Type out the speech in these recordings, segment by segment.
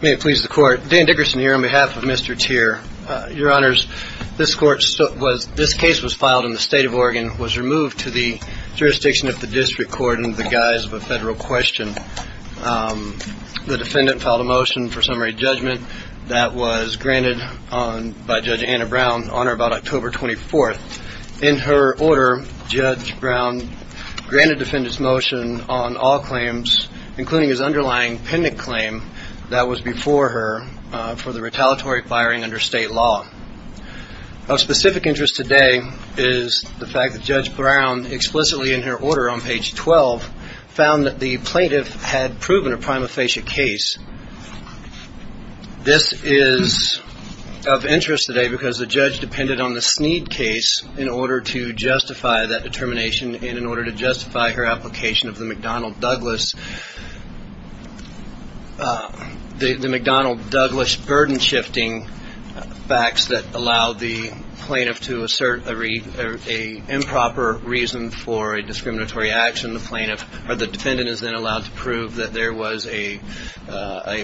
May it please the Court. Dan Dickerson here on behalf of Mr. Tchir. Your Honors, this case was filed in the State of Oregon, was removed to the jurisdiction of the District Court in the guise of a federal question. The defendant filed a motion for summary judgment that was granted by Judge Anna Brown on or about October 24th. In her order, Judge Brown granted the defendant's motion on all claims, including his underlying pendent claim that was before her for the retaliatory firing under state law. Of specific interest today is the fact that Judge Brown, explicitly in her order on page 12, found that the plaintiff had proven a prima facie case. This is of interest today because the judge depended on the Sneed case in order to justify that determination and in order to justify her application of the McDonnell-Douglas. The McDonnell-Douglas burden shifting facts that allowed the plaintiff to assert a improper reason for a discriminatory action. The defendant is then allowed to prove that there was a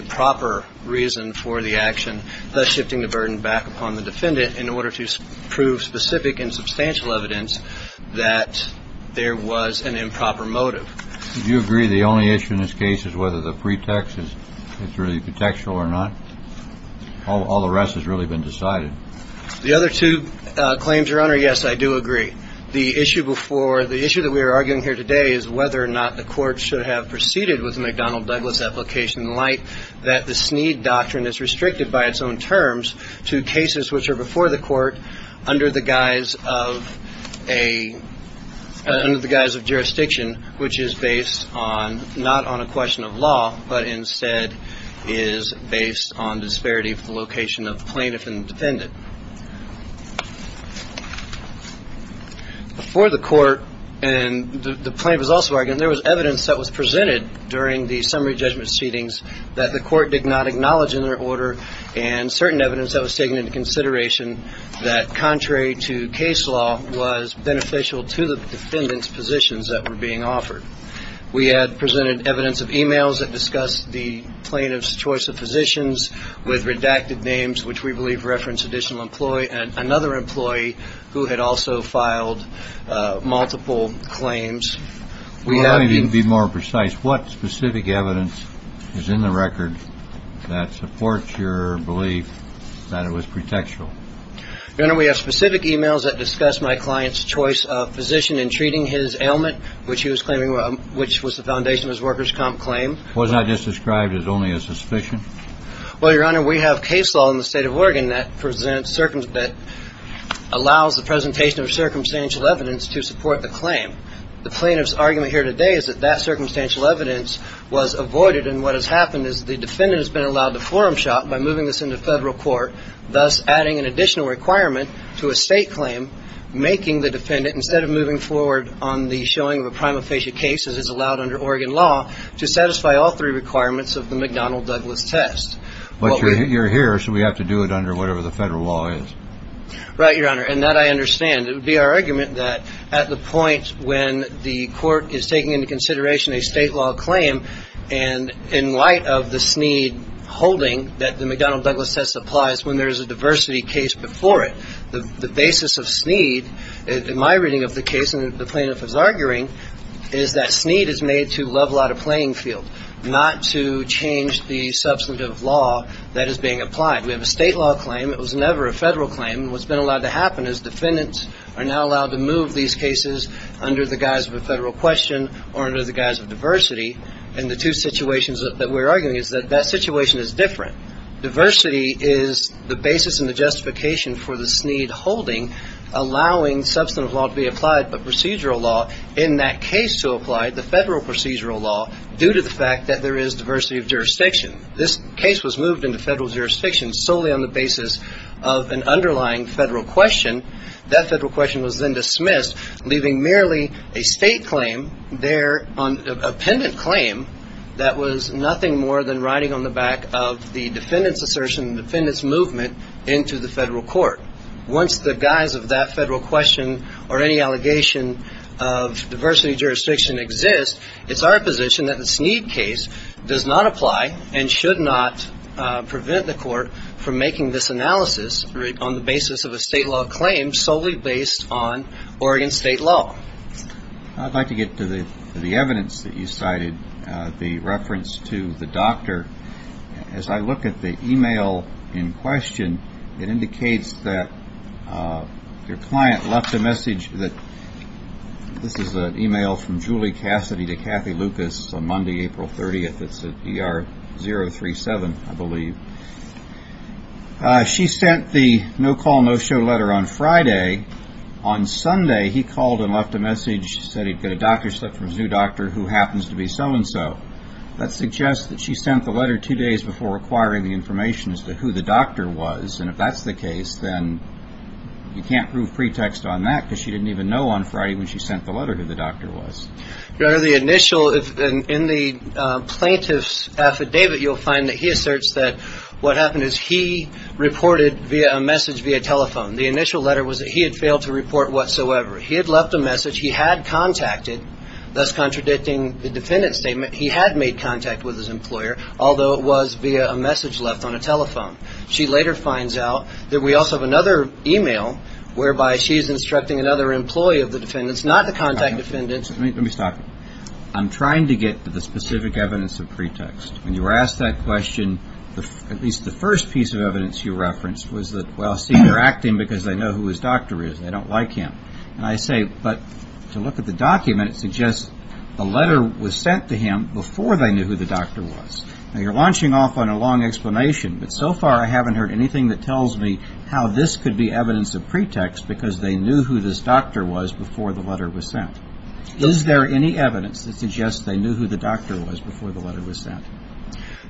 proper reason for the action, thus shifting the burden back upon the defendant in order to prove specific and substantial evidence that there was an improper motive. Do you agree the only issue in this case is whether the pretext is really contextual or not? All the rest has really been decided. The other two claims, Your Honor, yes, I do agree. The issue before, the issue that we are arguing here today is whether or not the court should have proceeded with the McDonnell-Douglas application in light that the Sneed doctrine is restricted by its own terms to cases which are before the court under the guise of a, under the guise of jurisdiction, which is based on, not on a question of law, but instead is based on disparity of the location of plaintiff and defendant. Before the court, and the plaintiff was also arguing, there was evidence that was presented during the summary judgment proceedings that the court did not acknowledge in their order and certain evidence that was taken into consideration that, contrary to case law, was beneficial to the defendant's positions that were being offered. We had presented evidence of e-mails that discussed the plaintiff's choice of physicians with redacted names, which we believe reference additional employee and another employee who had also filed multiple claims. Your Honor, if you could be more precise, what specific evidence is in the record that supports your belief that it was pretextual? Your Honor, we have specific e-mails that discuss my client's choice of physician in treating his ailment, which he was claiming, which was the foundation of his workers' comp claim. Wasn't that just described as only a suspicion? Well, Your Honor, we have case law in the state of Oregon that presents, that allows the presentation of circumstantial evidence to support the claim. The plaintiff's argument here today is that that circumstantial evidence was avoided, and what has happened is the defendant has been allowed to forum shop by moving this into federal court, thus adding an additional requirement to a state claim, making the defendant, instead of moving forward on the showing of a prima facie case as is allowed under Oregon law, to satisfy all three requirements of the McDonnell-Douglas test. But you're here, so we have to do it under whatever the federal law is. Right, Your Honor, and that I understand. It would be our argument that at the point when the court is taking into consideration a state law claim, and in light of the Snead holding that the McDonnell-Douglas test applies when there is a diversity case before it, the basis of Snead, in my reading of the case, and the plaintiff is arguing, is that Snead is made to level out a playing field, not to change the substantive law that is being applied. We have a state law claim. It was never a federal claim, and what's been allowed to happen is defendants are now allowed to move these cases under the guise of a federal question or under the guise of diversity, and the two situations that we're arguing is that that situation is different. Diversity is the basis and the justification for the Snead holding, allowing substantive law to be applied, but procedural law in that case to apply, the federal procedural law, due to the fact that there is diversity of jurisdiction. This case was moved into federal jurisdiction solely on the basis of an underlying federal question. That federal question was then dismissed, leaving merely a state claim there, a pendant claim, that was nothing more than riding on the back of the defendant's assertion, defendant's movement into the federal court. Once the guise of that federal question or any allegation of diversity of jurisdiction exists, it's our position that the Snead case does not apply and should not prevent the court from making this analysis on the basis of a state law claim solely based on Oregon state law. I'd like to get to the evidence that you cited, the reference to the doctor. As I look at the email in question, it indicates that your client left a message. This is an email from Julie Cassidy to Kathy Lucas on Monday, April 30th. It's at ER037, I believe. She sent the no-call, no-show letter on Friday. On Sunday, he called and left a message, said he'd got a doctor slip from a zoo doctor who happens to be so-and-so. That suggests that she sent the letter two days before requiring the information as to who the doctor was, and if that's the case, then you can't prove pretext on that because she didn't even know on Friday when she sent the letter who the doctor was. In the plaintiff's affidavit, you'll find that he asserts that what happened is he reported a message via telephone. The initial letter was that he had failed to report whatsoever. He had left a message. He had contacted, thus contradicting the defendant's statement. He had made contact with his employer, although it was via a message left on a telephone. She later finds out that we also have another email whereby she's instructing another employee of the defendant's, not the contact defendant's. I'm trying to get to the specific evidence of pretext. When you were asked that question, at least the first piece of evidence you referenced was that, well, see, they're acting because they know who his doctor is. They don't like him. And I say, but to look at the document, it suggests the letter was sent to him before they knew who the doctor was. Now, you're launching off on a long explanation, but so far I haven't heard anything that tells me how this could be evidence of pretext because they knew who this doctor was before the letter was sent. Is there any evidence that suggests they knew who the doctor was before the letter was sent?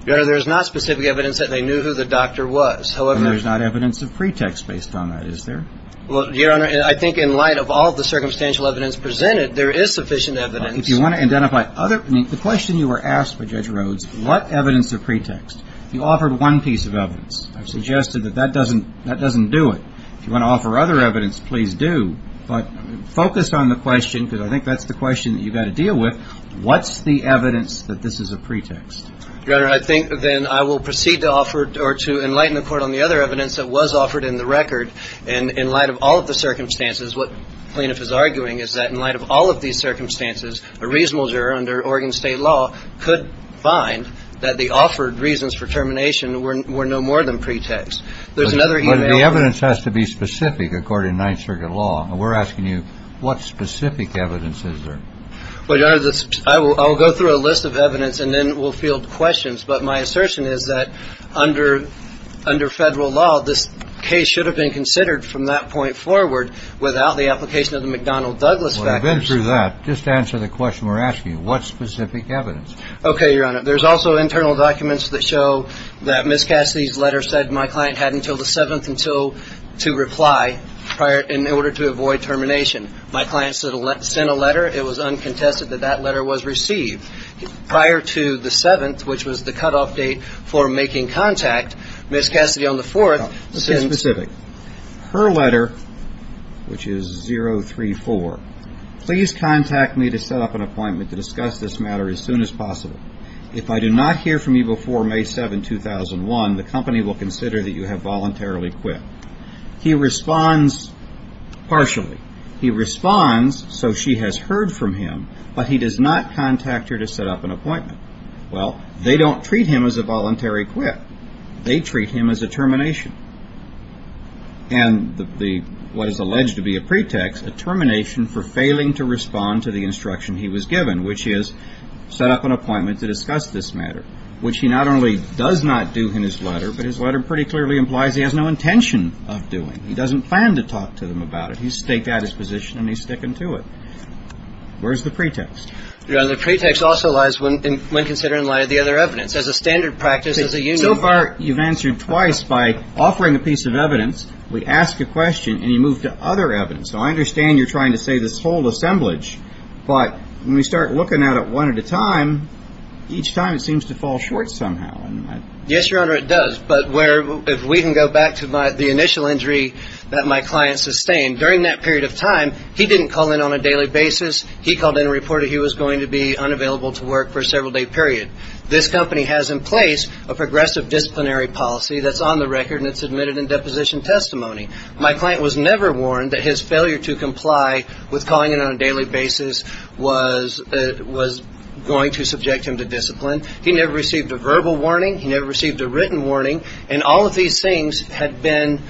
Your Honor, there is not specific evidence that they knew who the doctor was. And there's not evidence of pretext based on that, is there? Well, Your Honor, I think in light of all the circumstantial evidence presented, there is sufficient evidence. If you want to identify other, the question you were asked by Judge Rhodes, what evidence of pretext? You offered one piece of evidence. I've suggested that that doesn't do it. If you want to offer other evidence, please do. But focus on the question, because I think that's the question that you've got to deal with. What's the evidence that this is a pretext? Your Honor, I think then I will proceed to offer or to enlighten the Court on the other evidence that was offered in the record. And in light of all of the circumstances, what the plaintiff is arguing is that in light of all of these circumstances, a reasonable juror under Oregon State law could find that the offered reasons for termination were no more than pretext. But the evidence has to be specific, according to Ninth Circuit law. And we're asking you, what specific evidence is there? Well, Your Honor, I will go through a list of evidence, and then we'll field questions. But my assertion is that under Federal law, this case should have been considered from that point forward without the application of the McDonnell-Douglas factors. Well, then through that, just answer the question we're asking you. What specific evidence? Okay, Your Honor. There's also internal documents that show that Ms. Cassidy's letter said my client had until the 7th to reply in order to avoid termination. My client sent a letter. It was uncontested that that letter was received. Prior to the 7th, which was the cutoff date for making contact, Ms. Cassidy on the 4th sent – No, let's be specific. Her letter, which is 034. Please contact me to set up an appointment to discuss this matter as soon as possible. If I do not hear from you before May 7, 2001, the company will consider that you have voluntarily quit. He responds partially. He responds so she has heard from him, but he does not contact her to set up an appointment. Well, they don't treat him as a voluntary quit. They treat him as a termination. And what is alleged to be a pretext, a termination for failing to respond to the instruction he was given, which is set up an appointment to discuss this matter, which he not only does not do in his letter, but his letter pretty clearly implies he has no intention of doing. He doesn't plan to talk to them about it. He's staked out his position and he's sticking to it. Where's the pretext? Your Honor, the pretext also lies when considering the lie of the other evidence. As a standard practice, as a union. So far you've answered twice by offering a piece of evidence, we ask a question, and you move to other evidence. So I understand you're trying to say this whole assemblage, but when we start looking at it one at a time, each time it seems to fall short somehow. Yes, Your Honor, it does. But if we can go back to the initial injury that my client sustained, during that period of time he didn't call in on a daily basis. He called in and reported he was going to be unavailable to work for a several-day period. This company has in place a progressive disciplinary policy that's on the record and it's admitted in deposition testimony. My client was never warned that his failure to comply with calling in on a daily basis was going to subject him to discipline. He never received a verbal warning. He never received a written warning. And all of these things had been,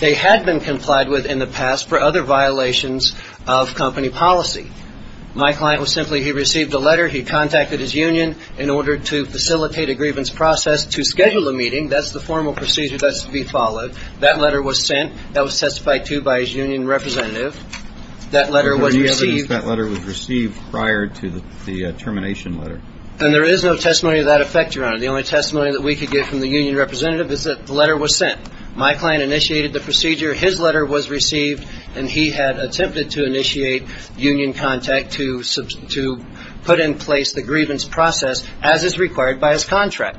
they had been complied with in the past for other violations of company policy. My client was simply, he received a letter. He contacted his union in order to facilitate a grievance process to schedule a meeting. That's the formal procedure that's to be followed. That letter was sent. That was testified to by his union representative. That letter was received prior to the termination letter. And there is no testimony to that effect, Your Honor. The only testimony that we could get from the union representative is that the letter was sent. My client initiated the procedure. His letter was received and he had attempted to initiate union contact to put in place the grievance process as is required by his contract.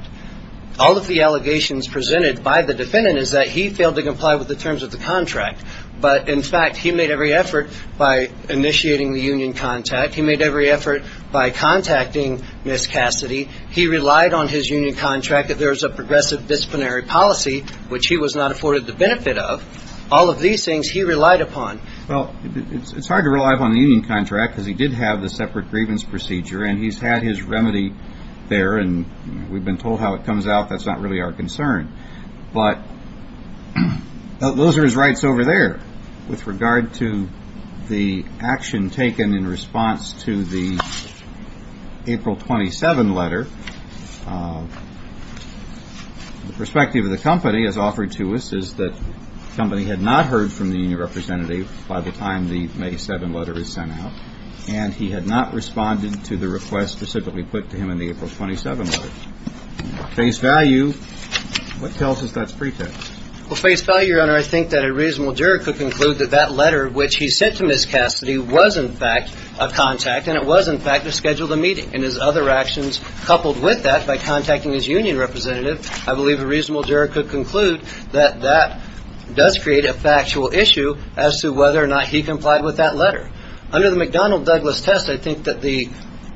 All of the allegations presented by the defendant is that he failed to comply with the terms of the contract. But, in fact, he made every effort by initiating the union contact. He made every effort by contacting Ms. Cassidy. He relied on his union contract. There was a progressive disciplinary policy, which he was not afforded the benefit of. All of these things he relied upon. Well, it's hard to rely upon the union contract because he did have the separate grievance procedure and he's had his remedy there. And we've been told how it comes out. That's not really our concern. But those are his rights over there with regard to the action taken in response to the April 27 letter. The perspective of the company has offered to us is that the company had not heard from the union representative by the time the May 7 letter was sent out. And he had not responded to the request specifically put to him in the April 27 letter. Face value. What tells us that's pretext? Well, face value, Your Honor, I think that a reasonable juror could conclude that that letter which he sent to Ms. Cassidy was, in fact, a contact. And it was, in fact, to schedule the meeting and his other actions coupled with that by contacting his union representative. I believe a reasonable juror could conclude that that does create a factual issue as to whether or not he complied with that letter. Under the McDonnell Douglas test, I think that the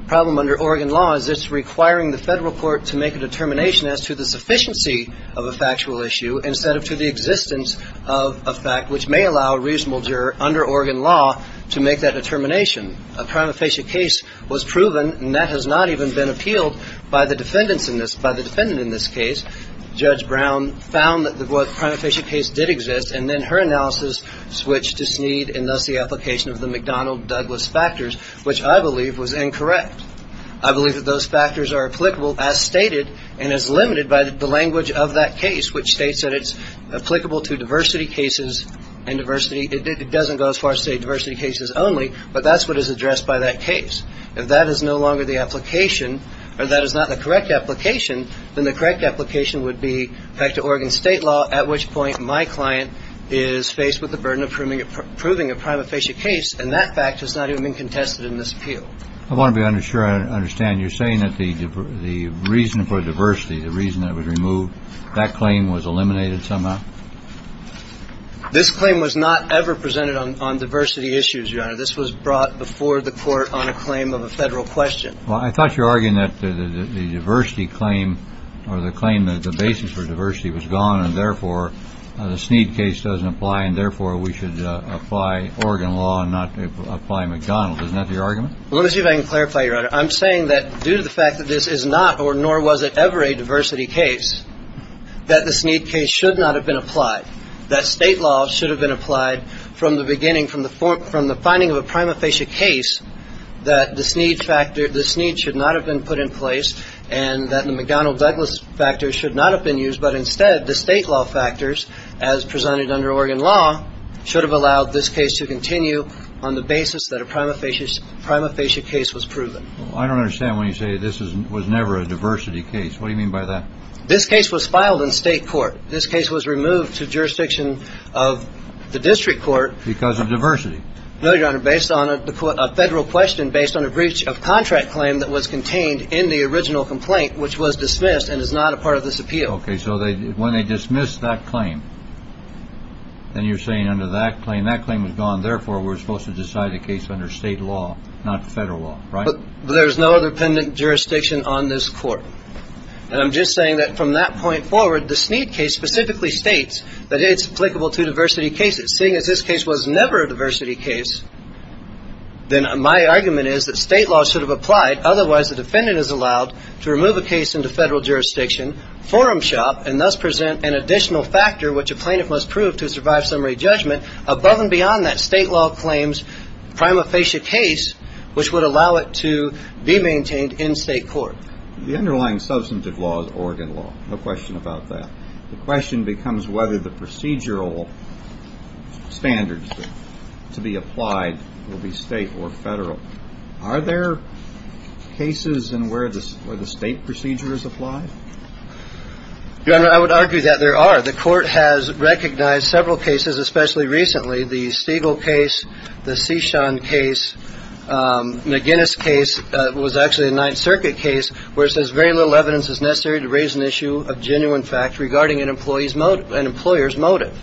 problem under Oregon law is it's requiring the federal court to make a determination as to the sufficiency of a factual issue instead of to the existence of a fact which may allow a reasonable juror under Oregon law to make that determination. A prima facie case was proven and that has not even been appealed by the defendants in this by the defendant in this case. Judge Brown found that the prima facie case did exist. And then her analysis switched to Snead and thus the application of the McDonnell Douglas factors, which I believe was incorrect. I believe that those factors are applicable as stated and as limited by the language of that case, which states that it's applicable to diversity cases and diversity. It doesn't go as far as a diversity cases only. But that's what is addressed by that case. And that is no longer the application or that is not the correct application. Then the correct application would be back to Oregon state law, at which point my client is faced with the burden of proving it, proving a prima facie case. And that fact has not even been contested in this appeal. I want to be unsure. I understand you're saying that the the reason for diversity, the reason that was removed, that claim was eliminated somehow. This claim was not ever presented on diversity issues. This was brought before the court on a claim of a federal question. Well, I thought you're arguing that the diversity claim or the claim that the basis for diversity was gone. And therefore, the Snead case doesn't apply. And therefore, we should apply Oregon law and not apply McDonnell. Isn't that the argument? Let me see if I can clarify. I'm saying that due to the fact that this is not or nor was it ever a diversity case, that the Snead case should not have been applied. That state law should have been applied from the beginning, from the from the finding of a prima facie case, that the Snead factor, the Snead should not have been put in place and that the McDonnell Douglas factor should not have been used. But instead, the state law factors, as presented under Oregon law, should have allowed this case to continue on the basis that a prima facie, prima facie case was proven. I don't understand when you say this was never a diversity case. What do you mean by that? This case was filed in state court. This case was removed to jurisdiction of the district court because of diversity. No, Your Honor, based on a federal question based on a breach of contract claim that was contained in the original complaint, which was dismissed and is not a part of this appeal. OK, so when they dismissed that claim. And you're saying under that claim, that claim was gone. Therefore, we're supposed to decide the case under state law, not federal law. Right. But there is no other pendent jurisdiction on this court. And I'm just saying that from that point forward, the Snead case specifically states that it's applicable to diversity cases. Seeing as this case was never a diversity case, then my argument is that state law should have applied. Otherwise, the defendant is allowed to remove a case into federal jurisdiction forum shop and thus present an additional factor, which a plaintiff must prove to survive summary judgment above and beyond that state law claims prima facie case, which would allow it to be maintained in state court. The underlying substantive law is Oregon law. No question about that. The question becomes whether the procedural standards to be applied will be state or federal. Are there cases in where the state procedure is applied? Your Honor, I would argue that there are. The court has recognized several cases, especially recently. The Stigall case, the Cishan case, McGinnis case was actually a Ninth Circuit case where it says very little evidence is necessary to raise an issue of genuine fact regarding an employee's motive and employer's motive.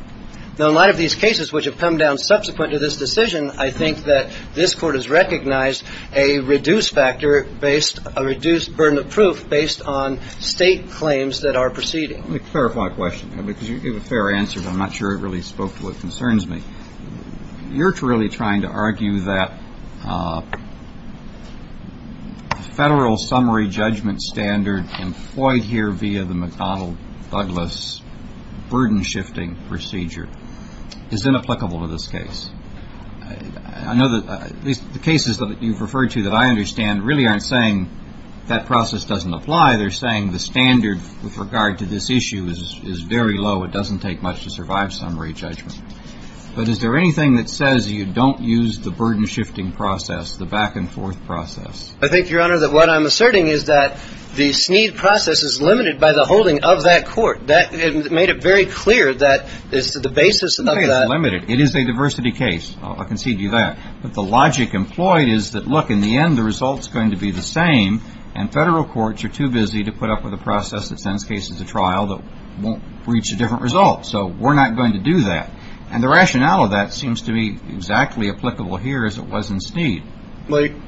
Now, a lot of these cases which have come down subsequent to this decision, I think that this court has recognized a reduced factor based a reduced burden of proof based on state claims that are proceeding. Let me clarify a question because you gave a fair answer, but I'm not sure it really spoke to what concerns me. You're really trying to argue that federal summary judgment standard employed here via the McDonnell Douglas burden shifting procedure is inapplicable to this case. I know that the cases that you've referred to that I understand really aren't saying that process doesn't apply. They're saying the standard with regard to this issue is very low. It doesn't take much to survive summary judgment. But is there anything that says you don't use the burden shifting process, the back and forth process? I think, Your Honor, that what I'm asserting is that the SNEED process is limited by the holding of that court. It made it very clear that it's the basis of that. It's not limited. It is a diversity case. I'll concede to you that. But the logic employed is that, look, in the end, the result is going to be the same. And federal courts are too busy to put up with a process that sends cases to trial that won't reach a different result. So we're not going to do that. And the rationale of that seems to be exactly applicable here as it was in SNEED.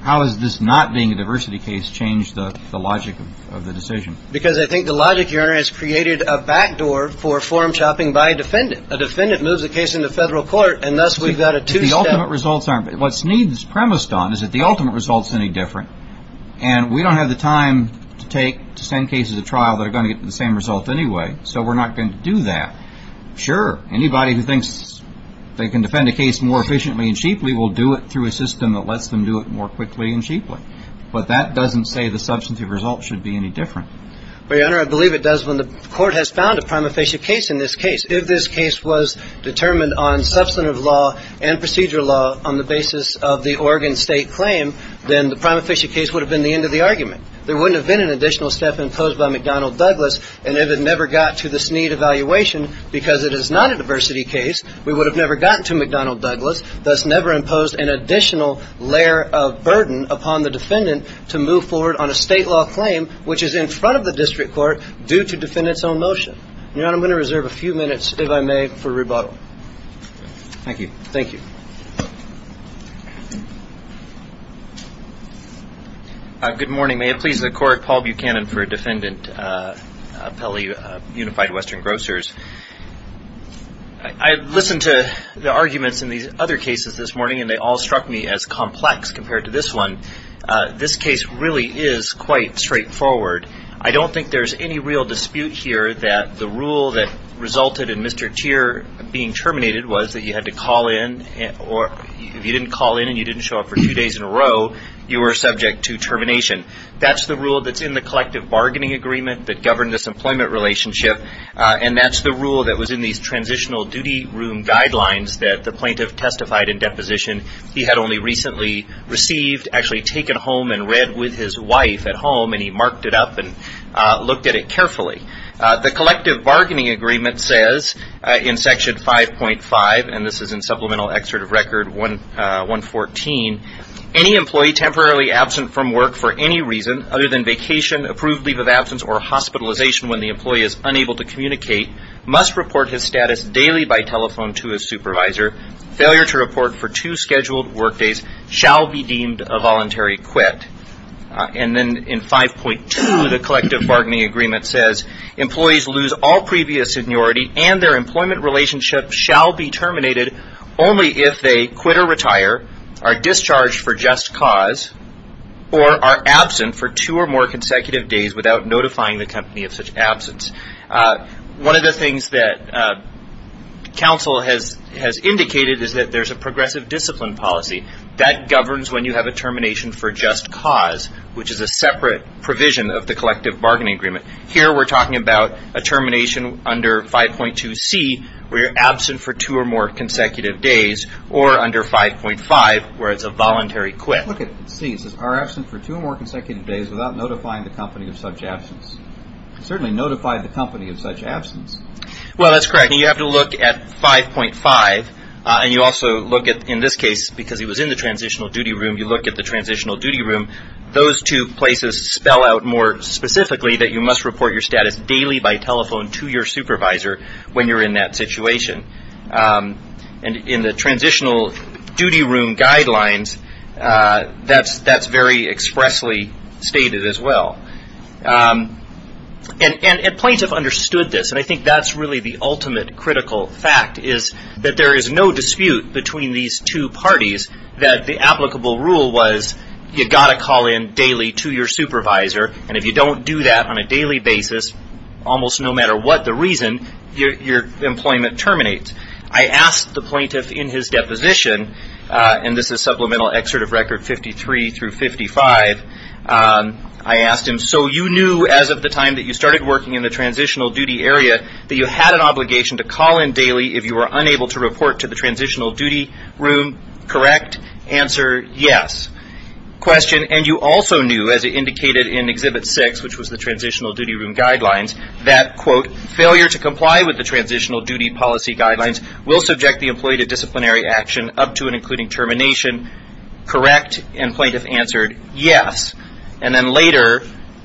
How is this not being a diversity case change the logic of the decision? Because I think the logic, Your Honor, has created a backdoor for form chopping by a defendant. A defendant moves a case into federal court, and thus we've got a two-step. What SNEED is premised on is that the ultimate result is any different. And we don't have the time to take to send cases to trial that are going to get the same result anyway. So we're not going to do that. Sure, anybody who thinks they can defend a case more efficiently and cheaply will do it through a system that lets them do it more quickly and cheaply. But that doesn't say the substantive result should be any different. But, Your Honor, I believe it does when the court has found a prima facie case in this case. If this case was determined on substantive law and procedure law on the basis of the Oregon state claim, then the prima facie case would have been the end of the argument. There wouldn't have been an additional step imposed by McDonnell Douglas. And if it never got to the SNEED evaluation, because it is not a diversity case, we would have never gotten to McDonnell Douglas, thus never imposed an additional layer of burden upon the defendant to move forward on a state law claim, which is in front of the district court due to defendant's own motion. Your Honor, I'm going to reserve a few minutes, if I may, for rebuttal. Thank you. Thank you. Good morning. May it please the Court, Paul Buchanan for Defendant Pele, Unified Western Grocers. I listened to the arguments in these other cases this morning, and they all struck me as complex compared to this one. This case really is quite straightforward. I don't think there's any real dispute here that the rule that resulted in Mr. Teer being terminated was that you had to call in, or if you didn't call in and you didn't show up for two days in a row, you were subject to termination. That's the rule that's in the collective bargaining agreement that governed this employment relationship, and that's the rule that was in these transitional duty room guidelines that the plaintiff testified in deposition. He had only recently received, actually taken home and read with his wife at home, and he marked it up and looked at it carefully. The collective bargaining agreement says in Section 5.5, and this is in Supplemental Excerpt of Record 114, any employee temporarily absent from work for any reason other than vacation, approved leave of absence, or hospitalization when the employee is unable to communicate must report his status daily by telephone to his supervisor. Failure to report for two scheduled work days shall be deemed a voluntary quit. And then in 5.2, the collective bargaining agreement says employees lose all previous seniority and their employment relationship shall be terminated only if they quit or retire, are discharged for just cause, or are absent for two or more consecutive days without notifying the company of such absence. One of the things that counsel has indicated is that there's a progressive discipline policy. That governs when you have a termination for just cause, which is a separate provision of the collective bargaining agreement. Here we're talking about a termination under 5.2C, where you're absent for two or more consecutive days, or under 5.5, where it's a voluntary quit. Let's look at C. Are absent for two or more consecutive days without notifying the company of such absence. Certainly notify the company of such absence. Well, that's correct. You have to look at 5.5, and you also look at, in this case, because he was in the transitional duty room, you look at the transitional duty room. Those two places spell out more specifically that you must report your status daily by telephone to your supervisor when you're in that situation. In the transitional duty room guidelines, that's very expressly stated as well. Plaintiffs understood this, and I think that's really the ultimate critical fact, is that there is no dispute between these two parties that the applicable rule was you've got to call in daily to your supervisor, and if you don't do that on a daily basis, almost no matter what the reason, your employment terminates. I asked the plaintiff in his deposition, and this is Supplemental Excerpt of Record 53 through 55, I asked him, so you knew as of the time that you started working in the transitional duty area that you had an obligation to call in daily if you were unable to report to the transitional duty room, correct? Answer, yes. Question, and you also knew, as indicated in Exhibit 6, which was the transitional duty room guidelines, that, quote, failure to comply with the transitional duty policy guidelines will subject the employee to disciplinary action up to and including termination, correct? And plaintiff answered, yes. And then later,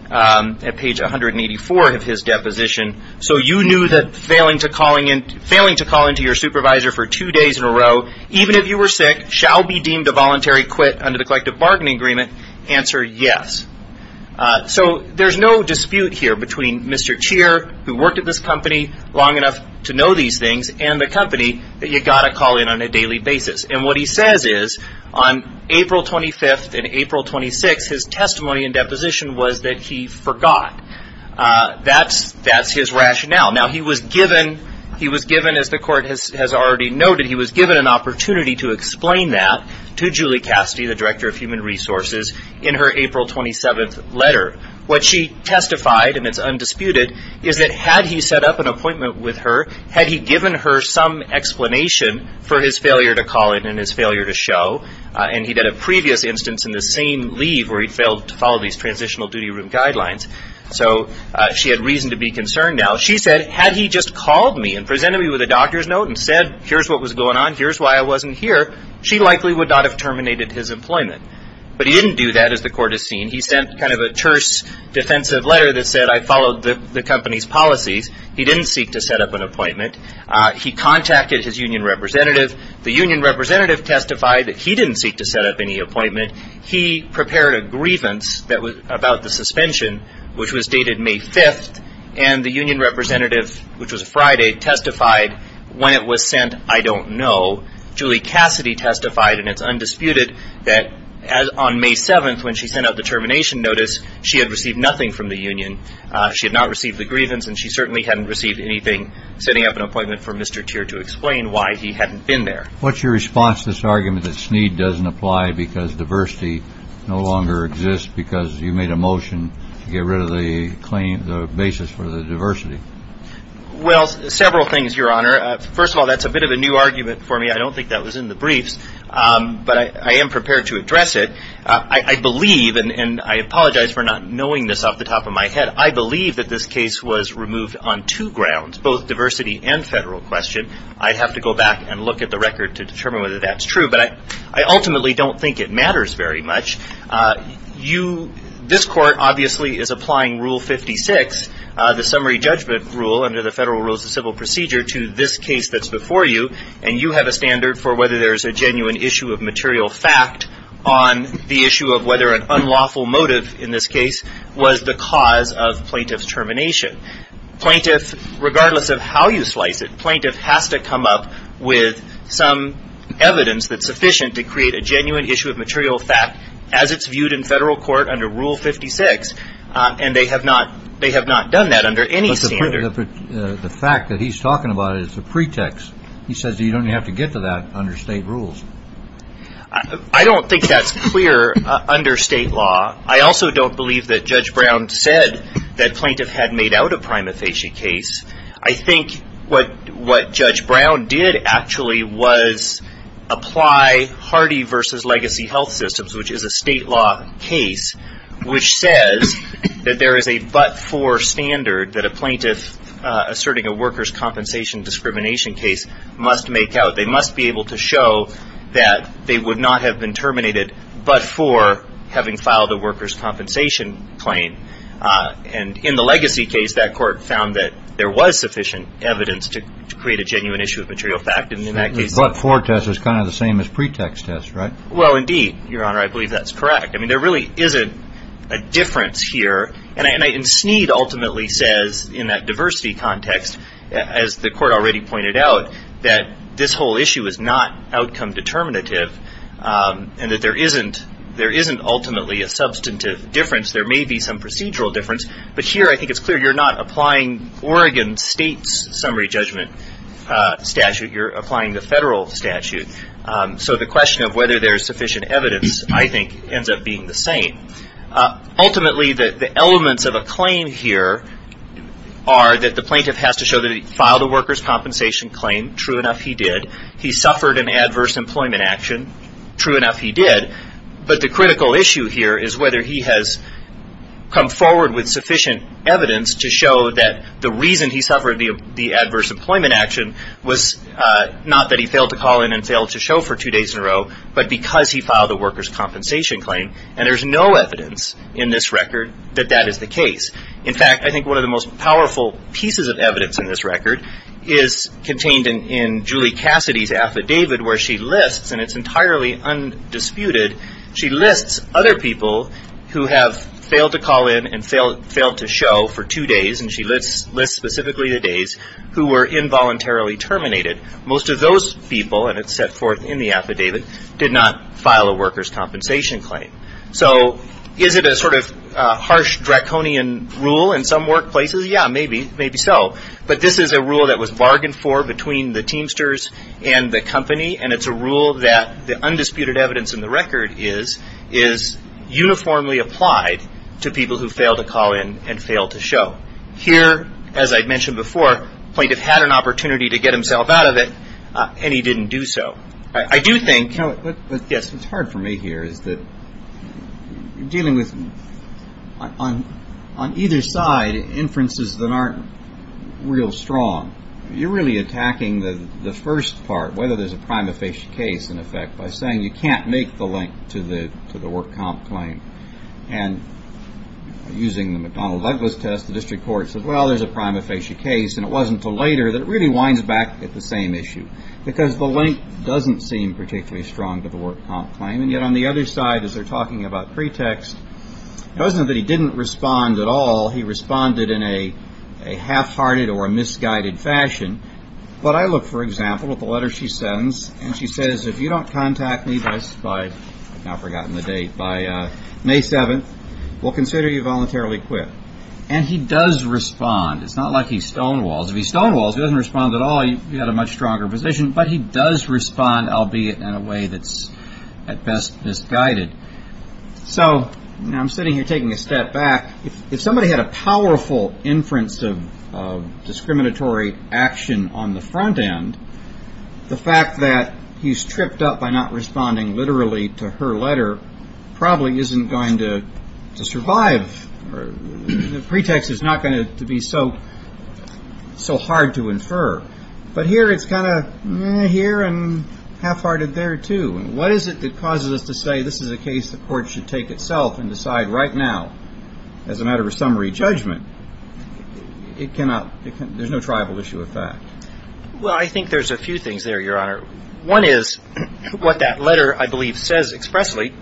at page 184 of his deposition, so you knew that failing to call into your supervisor for two days in a row, even if you were sick, shall be deemed a voluntary quit under the collective bargaining agreement. Answer, yes. So there's no dispute here between Mr. Cheer, who worked at this company long enough to know these things, and the company that you've got to call in on a daily basis. And what he says is, on April 25th and April 26th, his testimony in deposition was that he forgot. That's his rationale. Now, he was given, as the court has already noted, he was given an opportunity to explain that to Julie Cassidy, the director of human resources, in her April 27th letter. What she testified, and it's undisputed, is that had he set up an appointment with her, had he given her some explanation for his failure to call in and his failure to show, and he did a previous instance in the same leave where he failed to follow these transitional duty room guidelines, so she had reason to be concerned now. She said, had he just called me and presented me with a doctor's note and said, here's what was going on, here's why I wasn't here, she likely would not have terminated his employment. But he didn't do that, as the court has seen. He sent kind of a terse defensive letter that said, I followed the company's policies. He didn't seek to set up an appointment. He contacted his union representative. The union representative testified that he didn't seek to set up any appointment. He prepared a grievance about the suspension, which was dated May 5th, and the union representative, which was Friday, testified when it was sent, I don't know. Julie Cassidy testified, and it's undisputed, that on May 7th, when she sent out the termination notice, she had received nothing from the union. She had not received the grievance, and she certainly hadn't received anything, setting up an appointment for Mr. Teer to explain why he hadn't been there. What's your response to this argument that Snead doesn't apply because diversity no longer exists, because you made a motion to get rid of the basis for the diversity? Well, several things, Your Honor. First of all, that's a bit of a new argument for me. I don't think that was in the briefs, but I am prepared to address it. I believe, and I apologize for not knowing this off the top of my head, I believe that this case was removed on two grounds, both diversity and federal question. I'd have to go back and look at the record to determine whether that's true, but I ultimately don't think it matters very much. This court obviously is applying Rule 56, the summary judgment rule, under the Federal Rules of Civil Procedure, to this case that's before you, and you have a standard for whether there's a genuine issue of material fact on the issue of whether an unlawful motive in this case was the cause of plaintiff's termination. But plaintiff, regardless of how you slice it, plaintiff has to come up with some evidence that's sufficient to create a genuine issue of material fact as it's viewed in federal court under Rule 56, and they have not done that under any standard. But the fact that he's talking about it is a pretext. He says you don't even have to get to that under state rules. I don't think that's clear under state law. I also don't believe that Judge Brown said that plaintiff had made out a prima facie case. I think what Judge Brown did actually was apply Hardy v. Legacy Health Systems, which is a state law case, which says that there is a but-for standard that a plaintiff asserting a workers' compensation discrimination case must make out. They must be able to show that they would not have been terminated but for having filed a workers' compensation claim. And in the Legacy case, that court found that there was sufficient evidence to create a genuine issue of material fact. But-for test is kind of the same as pretext test, right? Well, indeed, Your Honor. I believe that's correct. I mean, there really isn't a difference here. And Snead ultimately says in that diversity context, as the court already pointed out, that this whole issue is not outcome determinative and that there isn't ultimately a substantive difference. There may be some procedural difference. But here I think it's clear you're not applying Oregon State's summary judgment statute. You're applying the federal statute. So the question of whether there's sufficient evidence, I think, ends up being the same. Ultimately, the elements of a claim here are that the plaintiff has to show that he filed a workers' compensation claim. True enough, he did. He suffered an adverse employment action. True enough, he did. But the critical issue here is whether he has come forward with sufficient evidence to show that the reason he suffered the adverse employment action was not that he failed to call in and failed to show for two days in a row, but because he filed a workers' compensation claim. And there's no evidence in this record that that is the case. In fact, I think one of the most powerful pieces of evidence in this record is contained in Julie Cassidy's affidavit where she lists, and it's entirely undisputed, she lists other people who have failed to call in and failed to show for two days. And she lists specifically the days who were involuntarily terminated. Most of those people, and it's set forth in the affidavit, did not file a workers' compensation claim. So is it a sort of harsh draconian rule in some workplaces? Yeah, maybe. Maybe so. But this is a rule that was bargained for between the Teamsters and the company, and it's a rule that the undisputed evidence in the record is uniformly applied to people who failed to call in and failed to show. Here, as I mentioned before, the plaintiff had an opportunity to get himself out of it, and he didn't do so. I do think – Yes, what's hard for me here is that you're dealing with, on either side, inferences that aren't real strong. You're really attacking the first part, whether there's a prima facie case, in effect, by saying you can't make the link to the work comp claim. And using the McDonnell Douglas test, the district court said, well, there's a prima facie case, and it wasn't until later that it really winds back at the same issue, because the link doesn't seem particularly strong to the work comp claim. And yet on the other side, as they're talking about pretext, it wasn't that he didn't respond at all. He responded in a half-hearted or a misguided fashion. But I look, for example, at the letter she sends, and she says, if you don't contact me by May 7th, we'll consider you voluntarily quit. And he does respond. It's not like he stonewalls. If he stonewalls, he doesn't respond at all. You've got a much stronger position. But he does respond, albeit in a way that's at best misguided. So I'm sitting here taking a step back. If somebody had a powerful inference of discriminatory action on the front end, the fact that he's tripped up by not responding literally to her letter probably isn't going to survive. The pretext is not going to be so hard to infer. But here it's kind of, eh, here and half-hearted there, too. And what is it that causes us to say this is a case the court should take itself and decide right now as a matter of summary judgment? There's no tribal issue with that. Well, I think there's a few things there, Your Honor. One is what that letter, I believe, says expressly,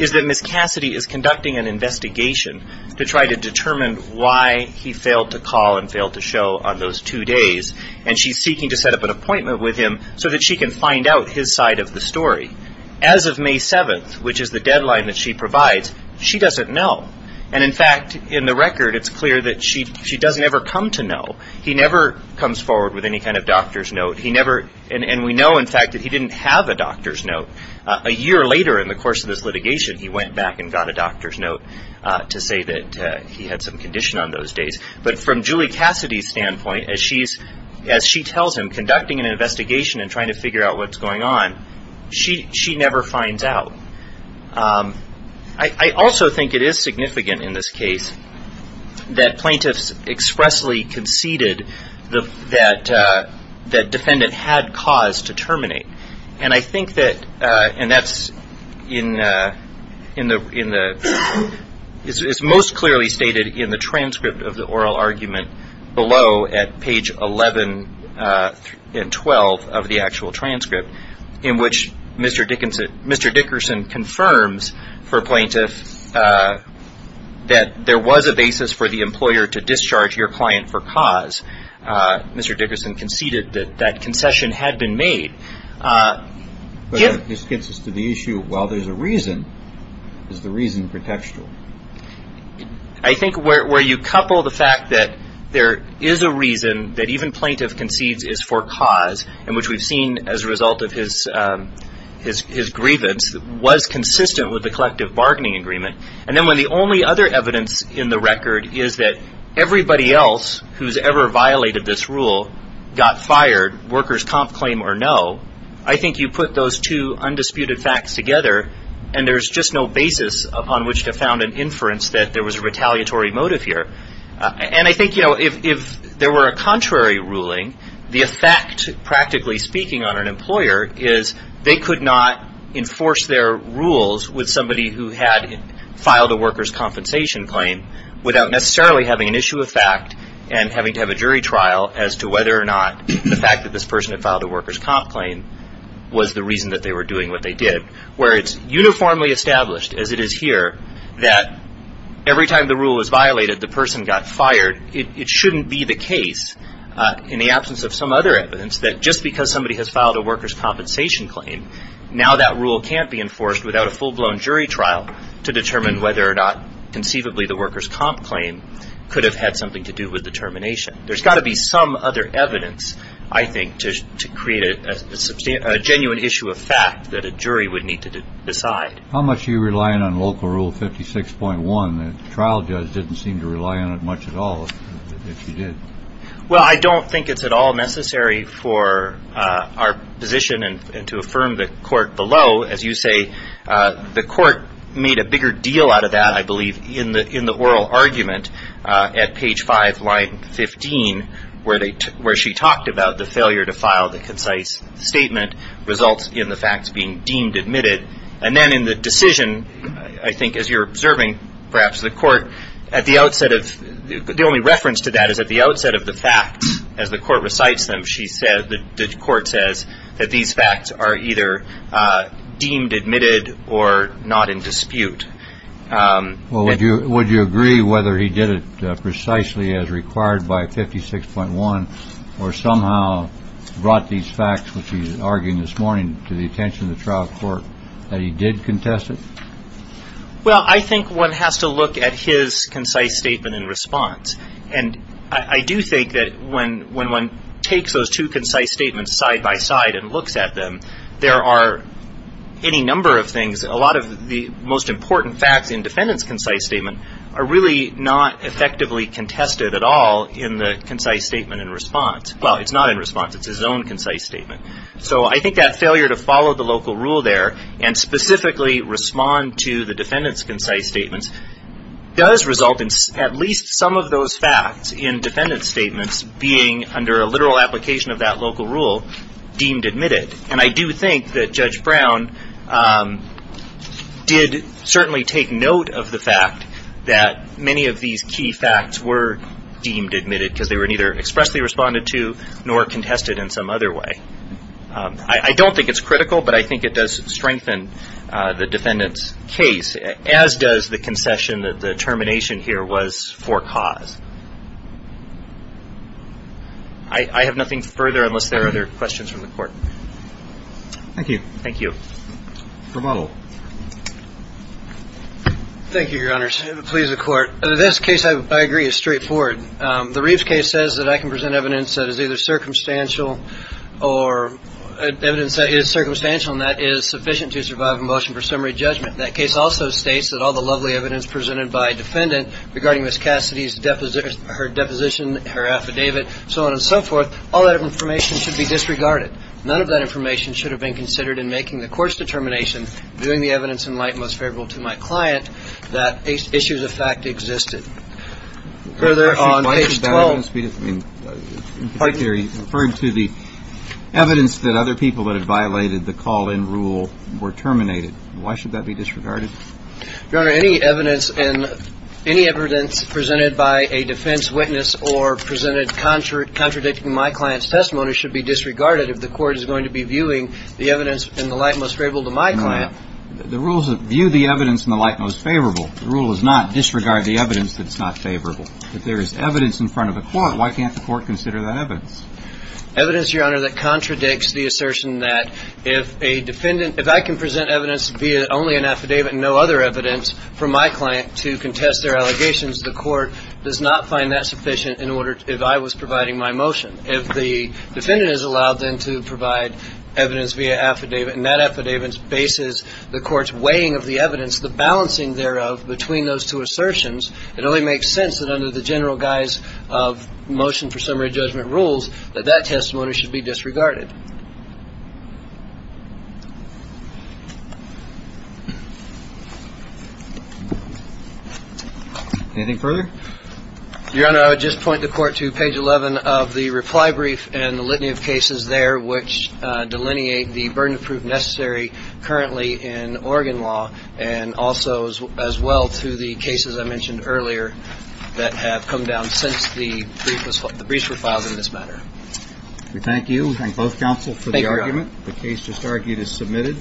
is that Ms. Cassidy is conducting an investigation to try to determine why he failed to call and failed to show on those two days. And she's seeking to set up an appointment with him so that she can find out his side of the story. As of May 7th, which is the deadline that she provides, she doesn't know. And, in fact, in the record, it's clear that she doesn't ever come to know. He never comes forward with any kind of doctor's note. And we know, in fact, that he didn't have a doctor's note. A year later in the course of this litigation, he went back and got a doctor's note to say that he had some condition on those days. But from Julie Cassidy's standpoint, as she tells him, conducting an investigation and trying to figure out what's going on, she never finds out. I also think it is significant in this case that plaintiffs expressly conceded that defendant had cause to terminate. And I think that, and that's in the, it's most clearly stated in the transcript of the oral argument below at page 11 and 12 of the actual transcript, in which Mr. Dickerson confirms for plaintiffs that there was a basis for the employer to discharge your client for cause. Mr. Dickerson conceded that that concession had been made. But this gets us to the issue, well, there's a reason. Is the reason contextual? I think where you couple the fact that there is a reason that even plaintiff concedes is for cause, and which we've seen as a result of his grievance, was consistent with the collective bargaining agreement. And then when the only other evidence in the record is that everybody else who's ever violated this rule got fired, workers' comp claim or no, I think you put those two undisputed facts together, and there's just no basis upon which to found an inference that there was a retaliatory motive here. And I think, you know, if there were a contrary ruling, the effect, practically speaking, on an employer is they could not enforce their rules with somebody who had filed a workers' compensation claim without necessarily having an issue of fact and having to have a jury trial as to whether or not the fact that this person had filed a workers' comp claim was the reason that they were doing what they did. Where it's uniformly established, as it is here, that every time the rule was violated, the person got fired, it shouldn't be the case, in the absence of some other evidence, that just because somebody has filed a workers' compensation claim, now that rule can't be enforced without a full-blown jury trial to determine whether or not conceivably the workers' comp claim could have had something to do with the termination. There's got to be some other evidence, I think, to create a genuine issue of fact that a jury would need to decide. How much are you relying on Local Rule 56.1 that the trial judge didn't seem to rely on it much at all, if he did? Well, I don't think it's at all necessary for our position and to affirm the court below. As you say, the court made a bigger deal out of that, I believe, in the oral argument at page 5, line 15, where she talked about the failure to file the concise statement results in the facts being deemed admitted. And then in the decision, I think, as you're observing, perhaps, the court, as the court recites them, the court says that these facts are either deemed admitted or not in dispute. Well, would you agree whether he did it precisely as required by 56.1 or somehow brought these facts, which he's arguing this morning, to the attention of the trial court, that he did contest it? Well, I think one has to look at his concise statement in response. And I do think that when one takes those two concise statements side by side and looks at them, there are any number of things. A lot of the most important facts in the defendant's concise statement are really not effectively contested at all in the concise statement in response. Well, it's not in response. It's his own concise statement. So I think that failure to follow the local rule there and specifically respond to the defendant's concise statements does result in at least some of those facts in defendant's statements being, under a literal application of that local rule, deemed admitted. And I do think that Judge Brown did certainly take note of the fact that many of these key facts were deemed admitted because they were neither expressly responded to nor contested in some other way. I don't think it's critical, but I think it does strengthen the defendant's case, as does the concession that the termination here was for cause. I have nothing further unless there are other questions from the Court. Thank you. Thank you. Rebuttal. Thank you, Your Honors. Please, the Court. This case, I agree, is straightforward. The Reeves case says that I can present evidence that is either circumstantial or evidence that is circumstantial and that is sufficient to survive a motion for summary judgment. That case also states that all the lovely evidence presented by a defendant regarding Ms. Cassidy's deposition, her affidavit, so on and so forth, all that information should be disregarded. None of that information should have been considered in making the court's determination, doing the evidence in light most favorable to my client, that issues of fact existed. Further, on page 12. Why should that evidence be disregarded? In particular, you referred to the evidence that other people that had violated the call-in rule were terminated. Why should that be disregarded? Your Honor, any evidence presented by a defense witness or presented contradicting my client's testimony should be disregarded if the court is going to be viewing the evidence in the light most favorable to my client. The rules view the evidence in the light most favorable. The rule does not disregard the evidence that's not favorable. If there is evidence in front of the court, why can't the court consider that evidence? Evidence, Your Honor, that contradicts the assertion that if a defendant if I can present evidence via only an affidavit and no other evidence for my client to contest their allegations, the court does not find that sufficient if I was providing my motion. If the defendant is allowed then to provide evidence via affidavit and that affidavit bases the court's weighing of the evidence, the balancing thereof between those two assertions, it only makes sense that under the general guise of motion for summary judgment rules that that testimony should be disregarded. Anything further? Your Honor, I would just point the court to page 11 of the reply brief and the litany of cases there which delineate the burden of proof necessary in Oregon law and also as well to the cases I mentioned earlier that have come down since the briefs were filed in this manner. We thank you. We thank both counsel for the argument. The case just argued is submitted.